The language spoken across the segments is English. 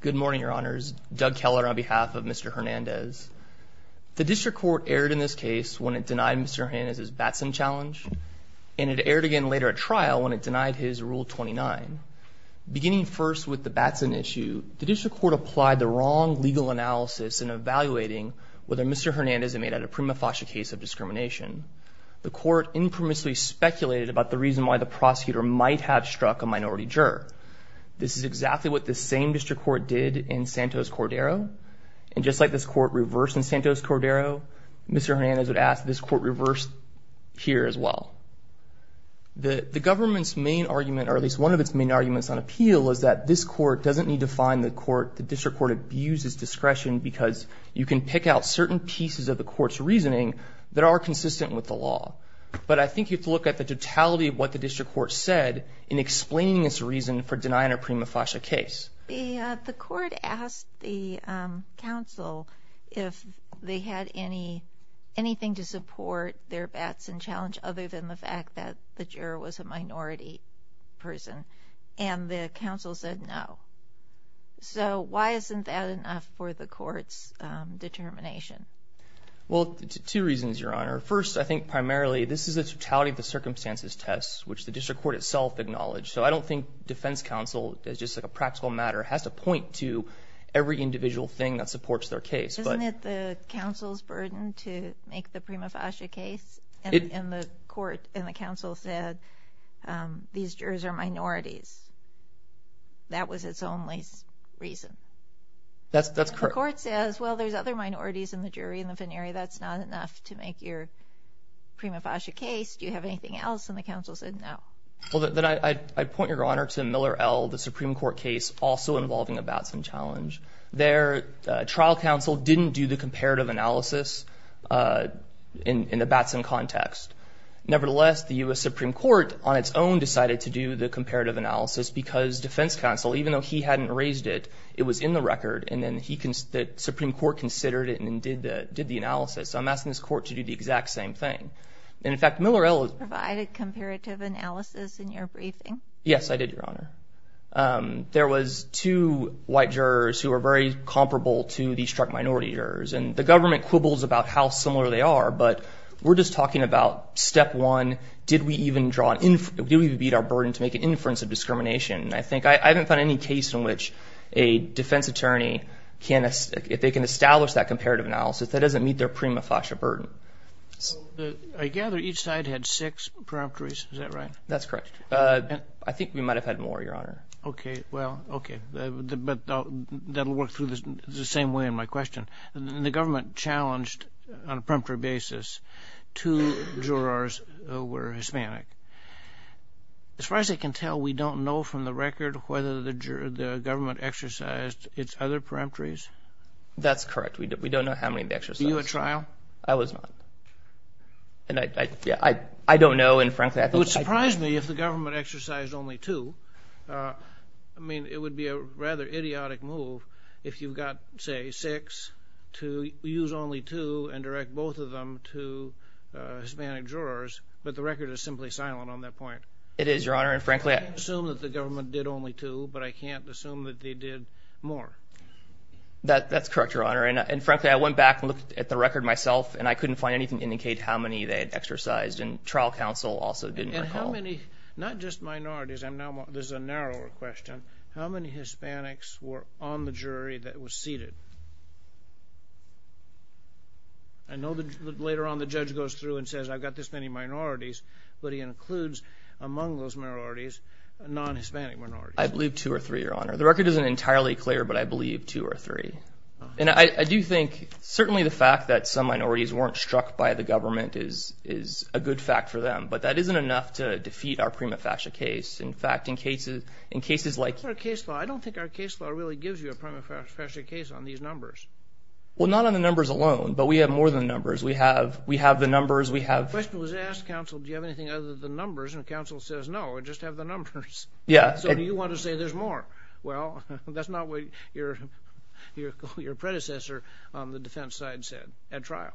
Good morning, Your Honors. Doug Keller on behalf of Mr. Hernandez. The district court erred in this case when it denied Mr. Hernandez's Batson challenge, and it erred again later at trial when it denied his Rule 29. Beginning first with the Batson issue, the district court applied the wrong legal analysis in evaluating whether Mr. Hernandez had made a prima facie case of discrimination. The court infamously speculated about the reason why the prosecutor might have struck a minority juror. This is exactly what the same district court did in Santos-Cordero, and just like this court reversed in Santos-Cordero, Mr. Hernandez would ask this court reverse here as well. The government's main argument, or at least one of its main arguments on appeal, is that this court doesn't need to find the court, the district court abuses discretion because you can pick out certain pieces of the court's reasoning that are consistent with the law. But I think you have to look at the totality of what the district court said in explaining its reason for denying a prima facie case. The court asked the counsel if they had anything to support their Batson challenge other than the fact that the juror was a minority person, and the counsel said no. So why isn't that enough for the court's determination? Well, two reasons, Your Honor. First, I think primarily this is the totality of the circumstances test, which the district court itself acknowledged. So I don't think defense counsel, as just a practical matter, has to point to every individual thing that supports their case. Isn't it the counsel's burden to make the prima facie case? And the court and the counsel said these jurors are minorities. That was its only reason. That's correct. The court says, well, there's other minorities in the jury, in the finery. That's not enough to make your prima facie case. Do you have anything else? And the counsel said no. Well, then I'd point, Your Honor, to Miller L., the Supreme Court case also involving a Batson challenge. Their trial counsel didn't do the comparative analysis in the Batson context. Nevertheless, the U.S. Supreme Court on its own decided to do the comparative analysis because defense counsel, even though he hadn't raised it, it was in the record. And then the Supreme Court considered it and did the analysis. So I'm asking this court to do the exact same thing. And, in fact, Miller L. Provided comparative analysis in your briefing. Yes, I did, Your Honor. There was two white jurors who were very comparable to the district minority jurors. And the government quibbles about how similar they are, but we're just talking about step one. Did we even beat our burden to make an inference of discrimination? I haven't found any case in which a defense attorney, if they can establish that comparative analysis, that doesn't meet their prima facie burden. I gather each side had six preemptories. Is that right? That's correct. I think we might have had more, Your Honor. Okay. Well, okay. But that will work through the same way in my question. The government challenged on a preemptory basis two jurors who were Hispanic. As far as I can tell, we don't know from the record whether the government exercised its other preemptories. That's correct. We don't know how many they exercised. Were you at trial? I was not. And I don't know, and frankly, I think I could. It would surprise me if the government exercised only two. I mean, it would be a rather idiotic move if you've got, say, six to use only two and direct both of them to Hispanic jurors. But the record is simply silent on that point. It is, Your Honor. And frankly, I can't assume that the government did only two, but I can't assume that they did more. That's correct, Your Honor. And frankly, I went back and looked at the record myself, and I couldn't find anything to indicate how many they had exercised. And trial counsel also didn't recall. And how many, not just minorities, this is a narrower question, how many Hispanics were on the jury that was seated? I know later on the judge goes through and says I've got this many minorities, but he includes among those minorities non-Hispanic minorities. I believe two or three, Your Honor. The record isn't entirely clear, but I believe two or three. And I do think certainly the fact that some minorities weren't struck by the government is a good fact for them. But that isn't enough to defeat our prima facie case. In fact, in cases like ---- I don't think our case law really gives you a prima facie case on these numbers. Well, not on the numbers alone, but we have more than the numbers. We have the numbers. The question was asked, counsel, do you have anything other than the numbers? And counsel says no, I just have the numbers. So do you want to say there's more? Well, that's not what your predecessor on the defense side said at trial.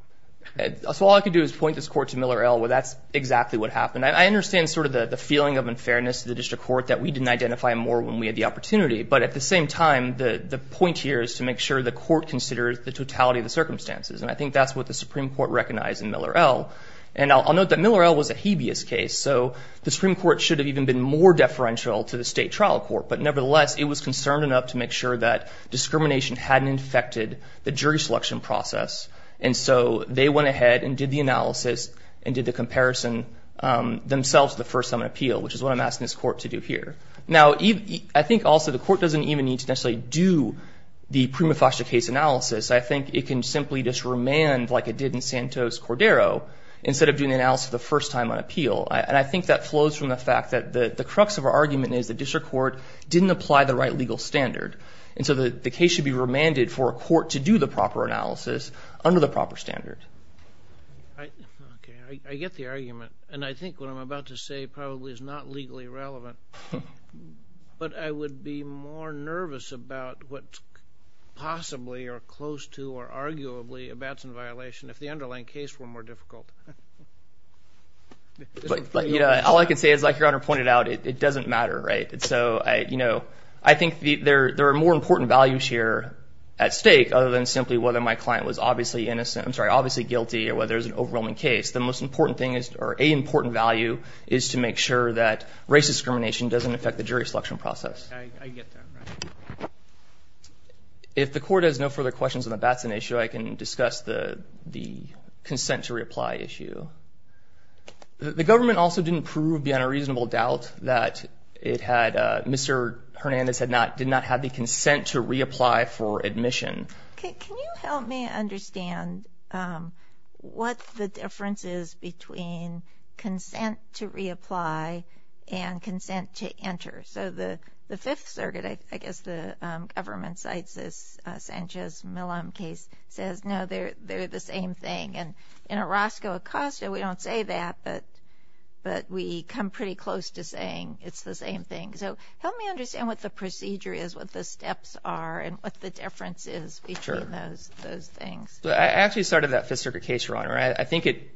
So all I can do is point this court to Miller L., where that's exactly what happened. And I understand sort of the feeling of unfairness to the district court that we didn't identify more when we had the opportunity. But at the same time, the point here is to make sure the court considers the totality of the circumstances. And I think that's what the Supreme Court recognized in Miller L. And I'll note that Miller L. was a habeas case. So the Supreme Court should have even been more deferential to the state trial court. But nevertheless, it was concerned enough to make sure that discrimination hadn't infected the jury selection process. And so they went ahead and did the analysis and did the comparison themselves the first time on appeal, which is what I'm asking this court to do here. Now, I think also the court doesn't even need to necessarily do the prima facie case analysis. I think it can simply just remand like it did in Santos-Cordero instead of doing the analysis the first time on appeal. And I think that flows from the fact that the crux of our argument is the district court didn't apply the right legal standard. And so the case should be remanded for a court to do the proper analysis under the proper standard. I get the argument. And I think what I'm about to say probably is not legally relevant. But I would be more nervous about what's possibly or close to or arguably a Batson violation if the underlying case were more difficult. All I can say is, like Your Honor pointed out, it doesn't matter. Right. So, you know, I think there are more important values here at stake other than simply whether my client was obviously innocent. I'm sorry, obviously guilty or whether there's an overwhelming case. The most important thing is or a important value is to make sure that race discrimination doesn't affect the jury selection process. I get that. If the court has no further questions on the Batson issue, I can discuss the consent to reapply issue. The government also didn't prove beyond a reasonable doubt that it had Mr. Hernandez had not did not have the consent to reapply for admission. Can you help me understand what the difference is between consent to reapply and consent to enter? So the fifth circuit, I guess the government cites this Sanchez-Millan case says, no, they're the same thing. And in Orozco-Acosta, we don't say that, but we come pretty close to saying it's the same thing. So help me understand what the procedure is, what the steps are and what the difference is between those things. I actually started that fifth circuit case, Your Honor. I think it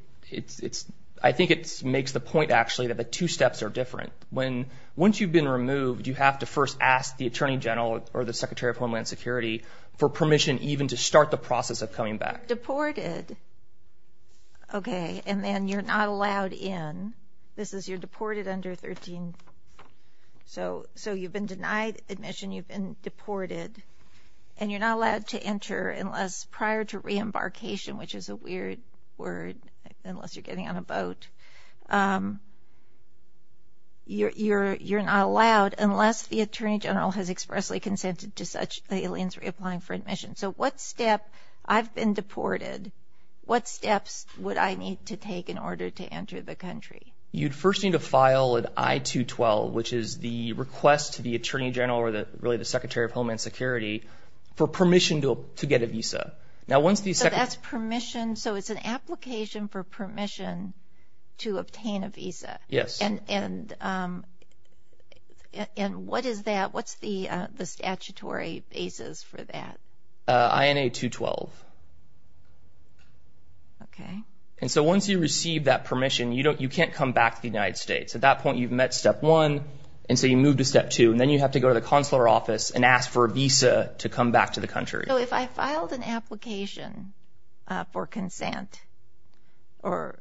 makes the point, actually, that the two steps are different. Once you've been removed, you have to first ask the attorney general or the secretary of homeland security for permission even to start the process of coming back. You're deported, okay, and then you're not allowed in. This is you're deported under 13. So you've been denied admission, you've been deported, and you're not allowed to enter unless prior to reembarkation, which is a weird word unless you're getting on a boat, you're not allowed unless the attorney general has expressly consented to such aliens reapplying for admission. So what step, I've been deported, what steps would I need to take in order to enter the country? You'd first need to file an I-212, which is the request to the attorney general or really the secretary of homeland security for permission to get a visa. So that's permission, so it's an application for permission to obtain a visa. Yes. And what is that? What's the statutory basis for that? I-212. Okay. And so once you receive that permission, you can't come back to the United States. At that point, you've met step one, and so you move to step two, and then you have to go to the consular office and ask for a visa to come back to the country. So if I filed an application for consent, so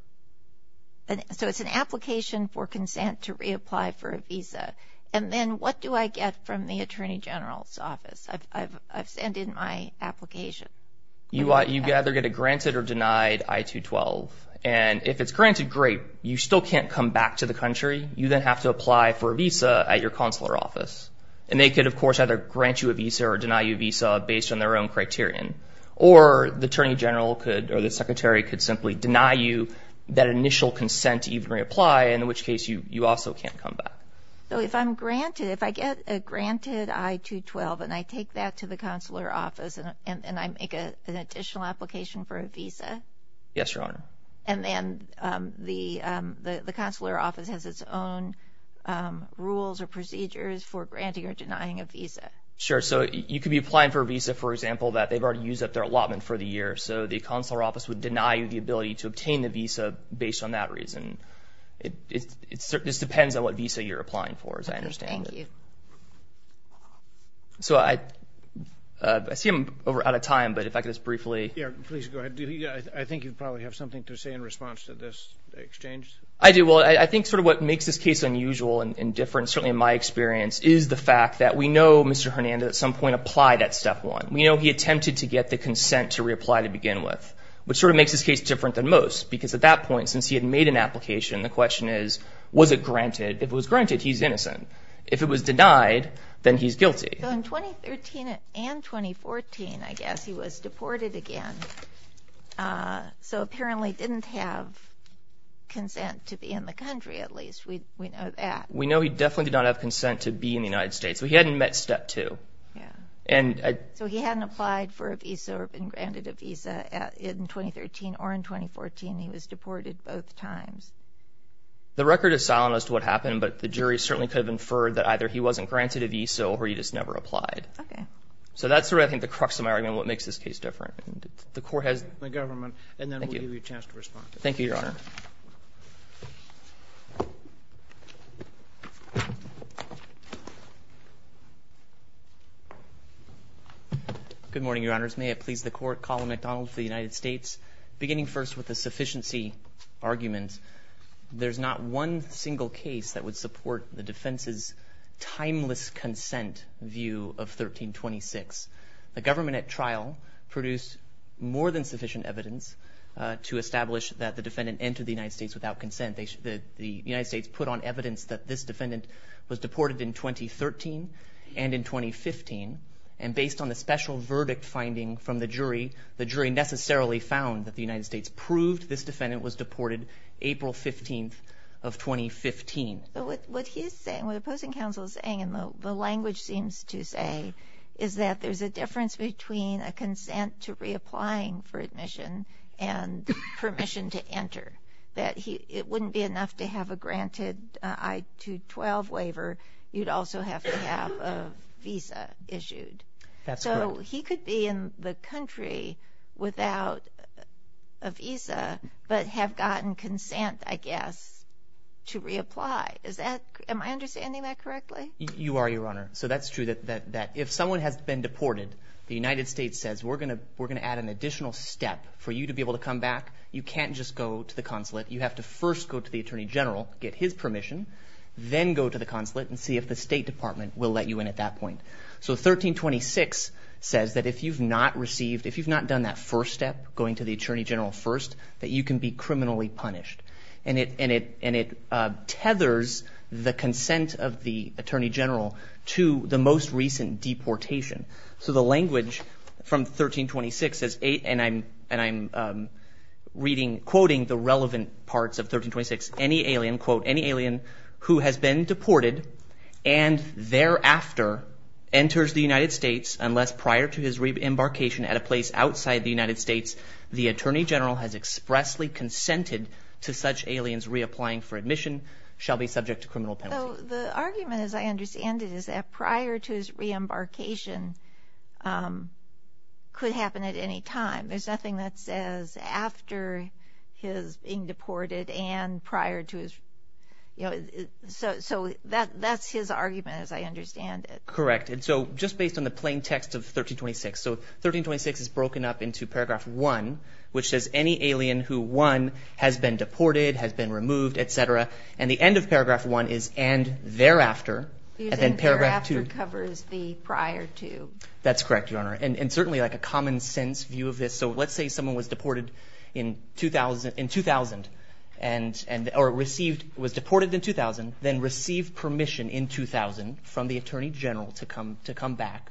it's an application for consent to reapply for a visa, and then what do I get from the attorney general's office? I've sent in my application. You either get a granted or denied I-212, and if it's granted, great. You still can't come back to the country. You then have to apply for a visa at your consular office, and they could, of course, either grant you a visa or deny you a visa based on their own criterion, or the attorney general could or the secretary could simply deny you that initial consent to even reapply, in which case you also can't come back. So if I'm granted, if I get a granted I-212 and I take that to the consular office and I make an additional application for a visa? Yes, Your Honor. And then the consular office has its own rules or procedures for granting or denying a visa. Sure. So you could be applying for a visa, for example, that they've already used up their allotment for the year, so the consular office would deny you the ability to obtain the visa based on that reason. It just depends on what visa you're applying for, as I understand it. Thank you. So I see I'm out of time, but if I could just briefly. Yeah, please go ahead. I think you probably have something to say in response to this exchange. I do. Well, I think sort of what makes this case unusual and different, certainly in my experience, is the fact that we know Mr. Hernandez at some point applied at step one. We know he attempted to get the consent to reapply to begin with, which sort of makes this case different than most because at that point, since he had made an application, the question is, was it granted? If it was granted, he's innocent. If it was denied, then he's guilty. So in 2013 and 2014, I guess, he was deported again, so apparently didn't have consent to be in the country, at least. We know that. We know he definitely did not have consent to be in the United States. He hadn't met step two. So he hadn't applied for a visa or been granted a visa in 2013 or in 2014. He was deported both times. The record is silent as to what happened, but the jury certainly could have inferred that either he wasn't granted a visa or he just never applied. Okay. So that's sort of, I think, the crux of my argument, what makes this case different. The Court has the government. Thank you. And then we'll give you a chance to respond. Thank you, Your Honor. Good morning, Your Honors. May it please the Court. Colin McDonald for the United States. Beginning first with the sufficiency argument, there's not one single case that would support the defense's timeless consent view of 1326. The government at trial produced more than sufficient evidence to establish that the defendant entered the United States without consent. The United States put on evidence that this defendant was deported in 2013 and in 2015, and based on the special verdict finding from the jury, the jury necessarily found that the United States proved this defendant was deported April 15th of 2015. But what he's saying, what the opposing counsel is saying, and the language seems to say, is that there's a difference between a consent to reapplying for admission and permission to enter, that it wouldn't be enough to have a granted I-212 waiver. You'd also have to have a visa issued. That's correct. So he could be in the country without a visa, but have gotten consent, I guess, to reapply. Am I understanding that correctly? You are, Your Honor. So that's true, that if someone has been deported, the United States says we're going to add an additional step for you to be able to come back. You can't just go to the consulate. You have to first go to the Attorney General, get his permission, then go to the consulate and see if the State Department will let you in at that point. So 1326 says that if you've not received, if you've not done that first step, going to the Attorney General first, that you can be criminally punished. And it tethers the consent of the Attorney General to the most recent deportation. So the language from 1326 says, and I'm reading, quoting the relevant parts of 1326, any alien, quote, any alien who has been deported and thereafter enters the United States unless prior to his reembarkation at a place outside the United States, the Attorney General has expressly consented to such aliens reapplying for admission, shall be subject to criminal penalty. So the argument, as I understand it, is that prior to his reembarkation could happen at any time. There's nothing that says after his being deported and prior to his, you know, so that's his argument as I understand it. Correct. And so just based on the plain text of 1326, so 1326 is broken up into Paragraph 1, which says any alien who, one, has been deported, has been removed, et cetera, and the end of Paragraph 1 is and thereafter, and then Paragraph 2. That's correct, Your Honor. And certainly like a common sense view of this. So let's say someone was deported in 2000 or received, was deported in 2000, then received permission in 2000 from the Attorney General to come back.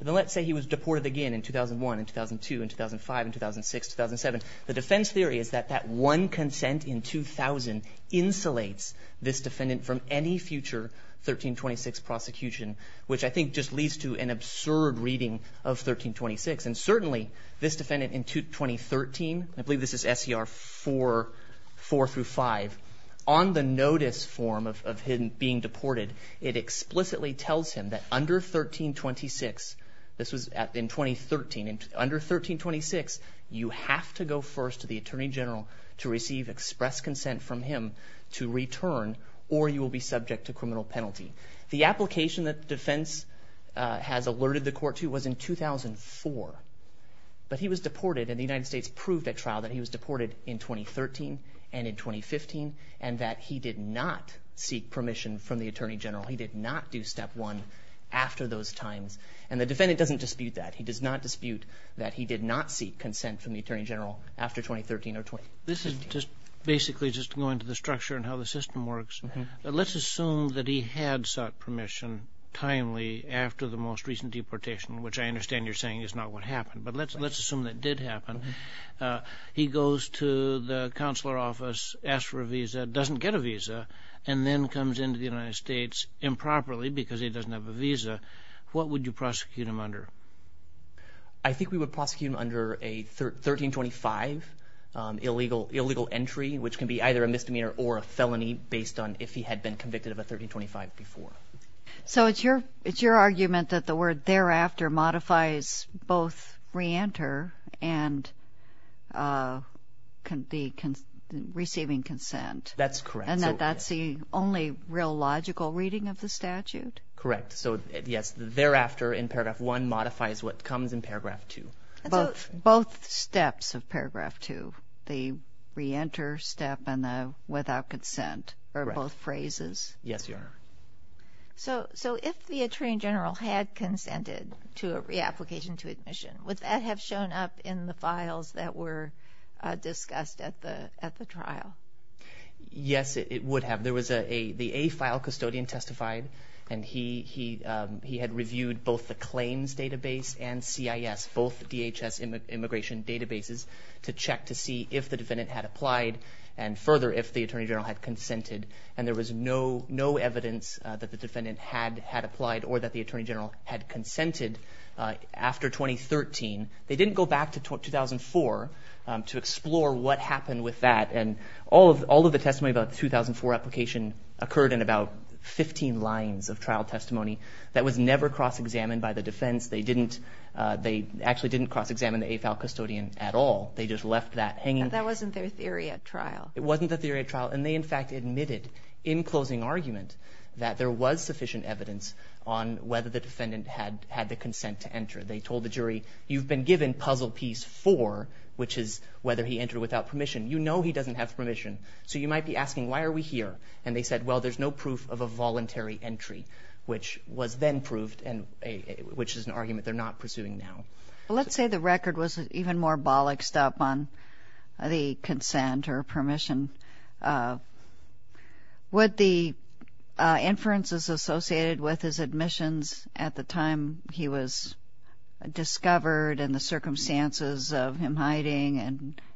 Then let's say he was deported again in 2001 and 2002 and 2005 and 2006, 2007. The defense theory is that that one consent in 2000 insulates this defendant from any future 1326 prosecution, which I think just leads to an absurd reading of 1326. And certainly this defendant in 2013, I believe this is SCR 4 through 5, on the notice form of him being deported, it explicitly tells him that under 1326, this was in 2013, under 1326 you have to go first to the Attorney General to receive express consent from him to return or you will be subject to criminal penalty. The application that defense has alerted the court to was in 2004. But he was deported and the United States proved at trial that he was deported in 2013 and in 2015 and that he did not seek permission from the Attorney General. He did not do Step 1 after those times. And the defendant doesn't dispute that. He does not dispute that he did not seek consent from the Attorney General after 2013 or 2015. This is just basically just going to the structure and how the system works. Let's assume that he had sought permission timely after the most recent deportation, which I understand you're saying is not what happened, but let's assume that did happen. He goes to the consular office, asks for a visa, doesn't get a visa, and then comes into the United States improperly because he doesn't have a visa. What would you prosecute him under? I think we would prosecute him under a 1325 illegal entry, which can be either a misdemeanor or a felony based on if he had been convicted of a 1325 before. So it's your argument that the word thereafter modifies both re-enter and receiving consent? That's correct. And that that's the only real logical reading of the statute? Correct. So yes, thereafter in paragraph 1 modifies what comes in paragraph 2. Both steps of paragraph 2, the re-enter step and the without consent are both phrases? Yes, Your Honor. So if the Attorney General had consented to a reapplication to admission, would that have shown up in the files that were discussed at the trial? Yes, it would have. There was the AFILE custodian testified, and he had reviewed both the claims database and CIS, both DHS immigration databases, to check to see if the defendant had applied and further if the Attorney General had consented. And there was no evidence that the defendant had applied or that the Attorney General had consented after 2013. They didn't go back to 2004 to explore what happened with that. And all of the testimony about the 2004 application occurred in about 15 lines of trial testimony that was never cross-examined by the defense. They actually didn't cross-examine the AFILE custodian at all. They just left that hanging. That wasn't their theory at trial. It wasn't their theory at trial. And they, in fact, admitted in closing argument that there was sufficient evidence on whether the defendant had the consent to enter. They told the jury, you've been given puzzle piece 4, which is whether he entered without permission. You know he doesn't have permission, so you might be asking, why are we here? And they said, well, there's no proof of a voluntary entry, which was then proved, which is an argument they're not pursuing now. Let's say the record was even more bollocked up on the consent or permission. Would the inferences associated with his admissions at the time he was discovered and the circumstances of him hiding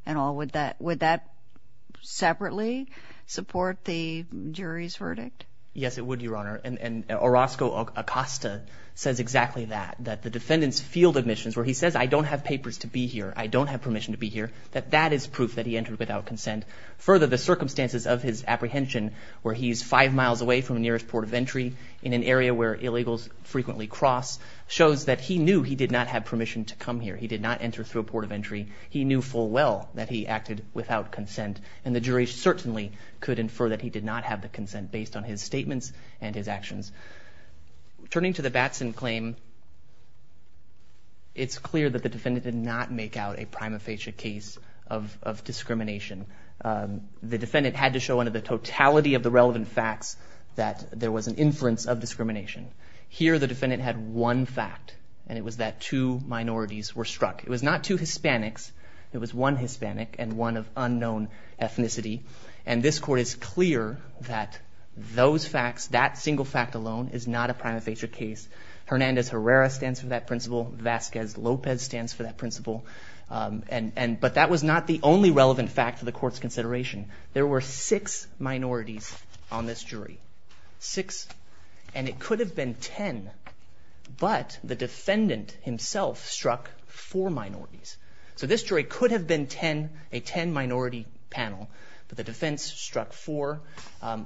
and all, would that separately support the jury's verdict? Yes, it would, Your Honor. And Orozco Acosta says exactly that, that the defendant's field admissions where he says, I don't have papers to be here, I don't have permission to be here, that that is proof that he entered without consent. Further, the circumstances of his apprehension where he's five miles away from the nearest port of entry in an area where illegals frequently cross, shows that he knew he did not have permission to come here. He did not enter through a port of entry. He knew full well that he acted without consent, and the jury certainly could infer that he did not have the consent based on his statements and his actions. Turning to the Batson claim, it's clear that the defendant did not make out a prima facie case of discrimination. The defendant had to show under the totality of the relevant facts that there was an inference of discrimination. Here, the defendant had one fact, and it was that two minorities were struck. It was not two Hispanics. It was one Hispanic and one of unknown ethnicity. And this Court is clear that those facts, that single fact alone, is not a prima facie case. Hernandez Herrera stands for that principle. Vasquez Lopez stands for that principle. But that was not the only relevant fact to the Court's consideration. There were six minorities on this jury. Six. And it could have been ten, but the defendant himself struck four minorities. So this jury could have been ten, a ten-minority panel, but the defense struck four,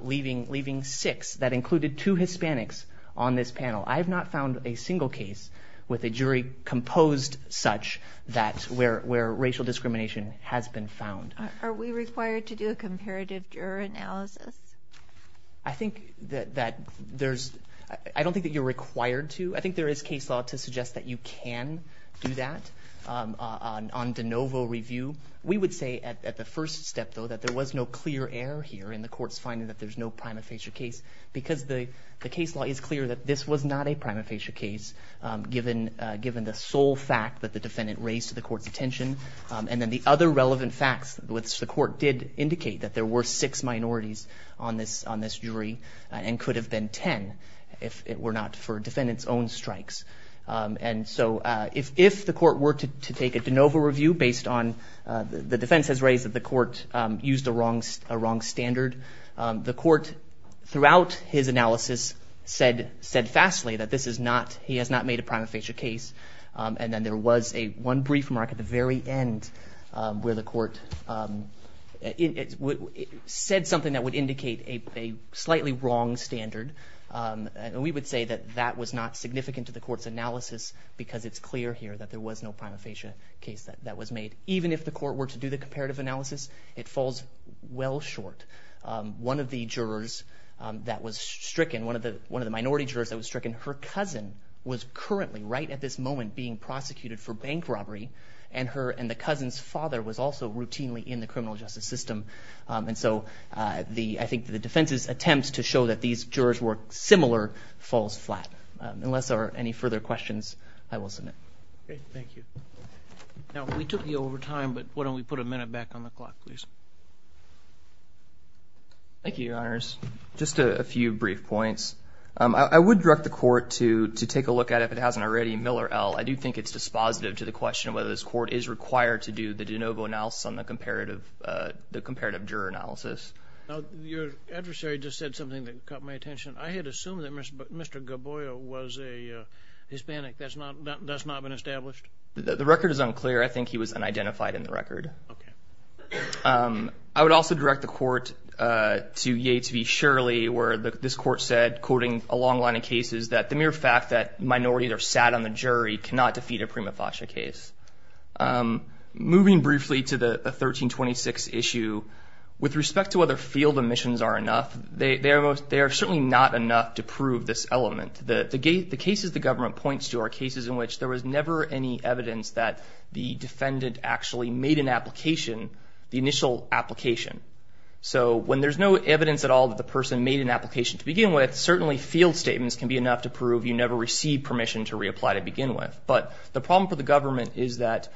leaving six. That included two Hispanics on this panel. I have not found a single case with a jury composed such that where racial discrimination has been found. Are we required to do a comparative juror analysis? I think that there's – I don't think that you're required to. I think there is case law to suggest that you can do that on de novo review. We would say at the first step, though, that there was no clear error here in the Court's finding that there's no prima facie case because the case law is clear that this was not a prima facie case, given the sole fact that the defendant raised to the Court's attention. And then the other relevant facts, which the Court did indicate that there were six minorities on this jury and could have been ten if it were not for defendant's own strikes. And so if the Court were to take a de novo review based on the defense has raised that the Court used a wrong standard, the Court, throughout his analysis, said fastly that this is not – he has not made a prima facie case. And then there was one brief mark at the very end where the Court said something that would indicate a slightly wrong standard. And we would say that that was not significant to the Court's analysis because it's clear here that there was no prima facie case that was made. Even if the Court were to do the comparative analysis, it falls well short. One of the jurors that was stricken, one of the minority jurors that was stricken, her cousin was currently, right at this moment, being prosecuted for bank robbery, and the cousin's father was also routinely in the criminal justice system. And so I think the defense's attempt to show that these jurors were similar falls flat. Unless there are any further questions, I will submit. Okay, thank you. Now, we took you over time, but why don't we put a minute back on the clock, please. Thank you, Your Honors. Just a few brief points. I would direct the Court to take a look at it if it hasn't already. Miller L., I do think it's dispositive to the question of whether this Court is required to do the de novo analysis on the comparative juror analysis. Your adversary just said something that caught my attention. I had assumed that Mr. Gaboya was a Hispanic. That's not been established? The record is unclear. I think he was unidentified in the record. Okay. I would also direct the Court to Yates v. Shirley, where this Court said, quoting a long line of cases, that the mere fact that minorities are sat on the jury cannot defeat a prima facie case. Moving briefly to the 1326 issue, with respect to whether field omissions are enough, they are certainly not enough to prove this element. The cases the government points to are cases in which there was never any evidence that the defendant actually made an application, the initial application. So when there's no evidence at all that the person made an application to begin with, certainly field statements can be enough to prove you never received permission to reapply to begin with. But the problem for the government is that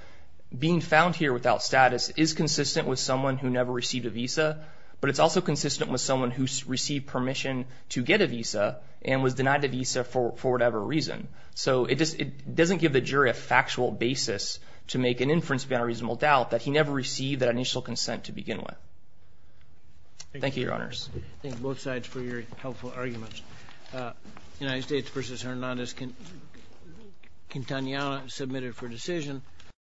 being found here without status is consistent with someone who never received a visa, but it's also consistent with someone who received permission to get a visa and was denied the visa for whatever reason. So it doesn't give the jury a factual basis to make an inference beyond a reasonable doubt that he never received that initial consent to begin with. Thank you, Your Honors. Thank you, both sides, for your helpful arguments. United States v. Hernandez-Quintanilla, submitted for decision.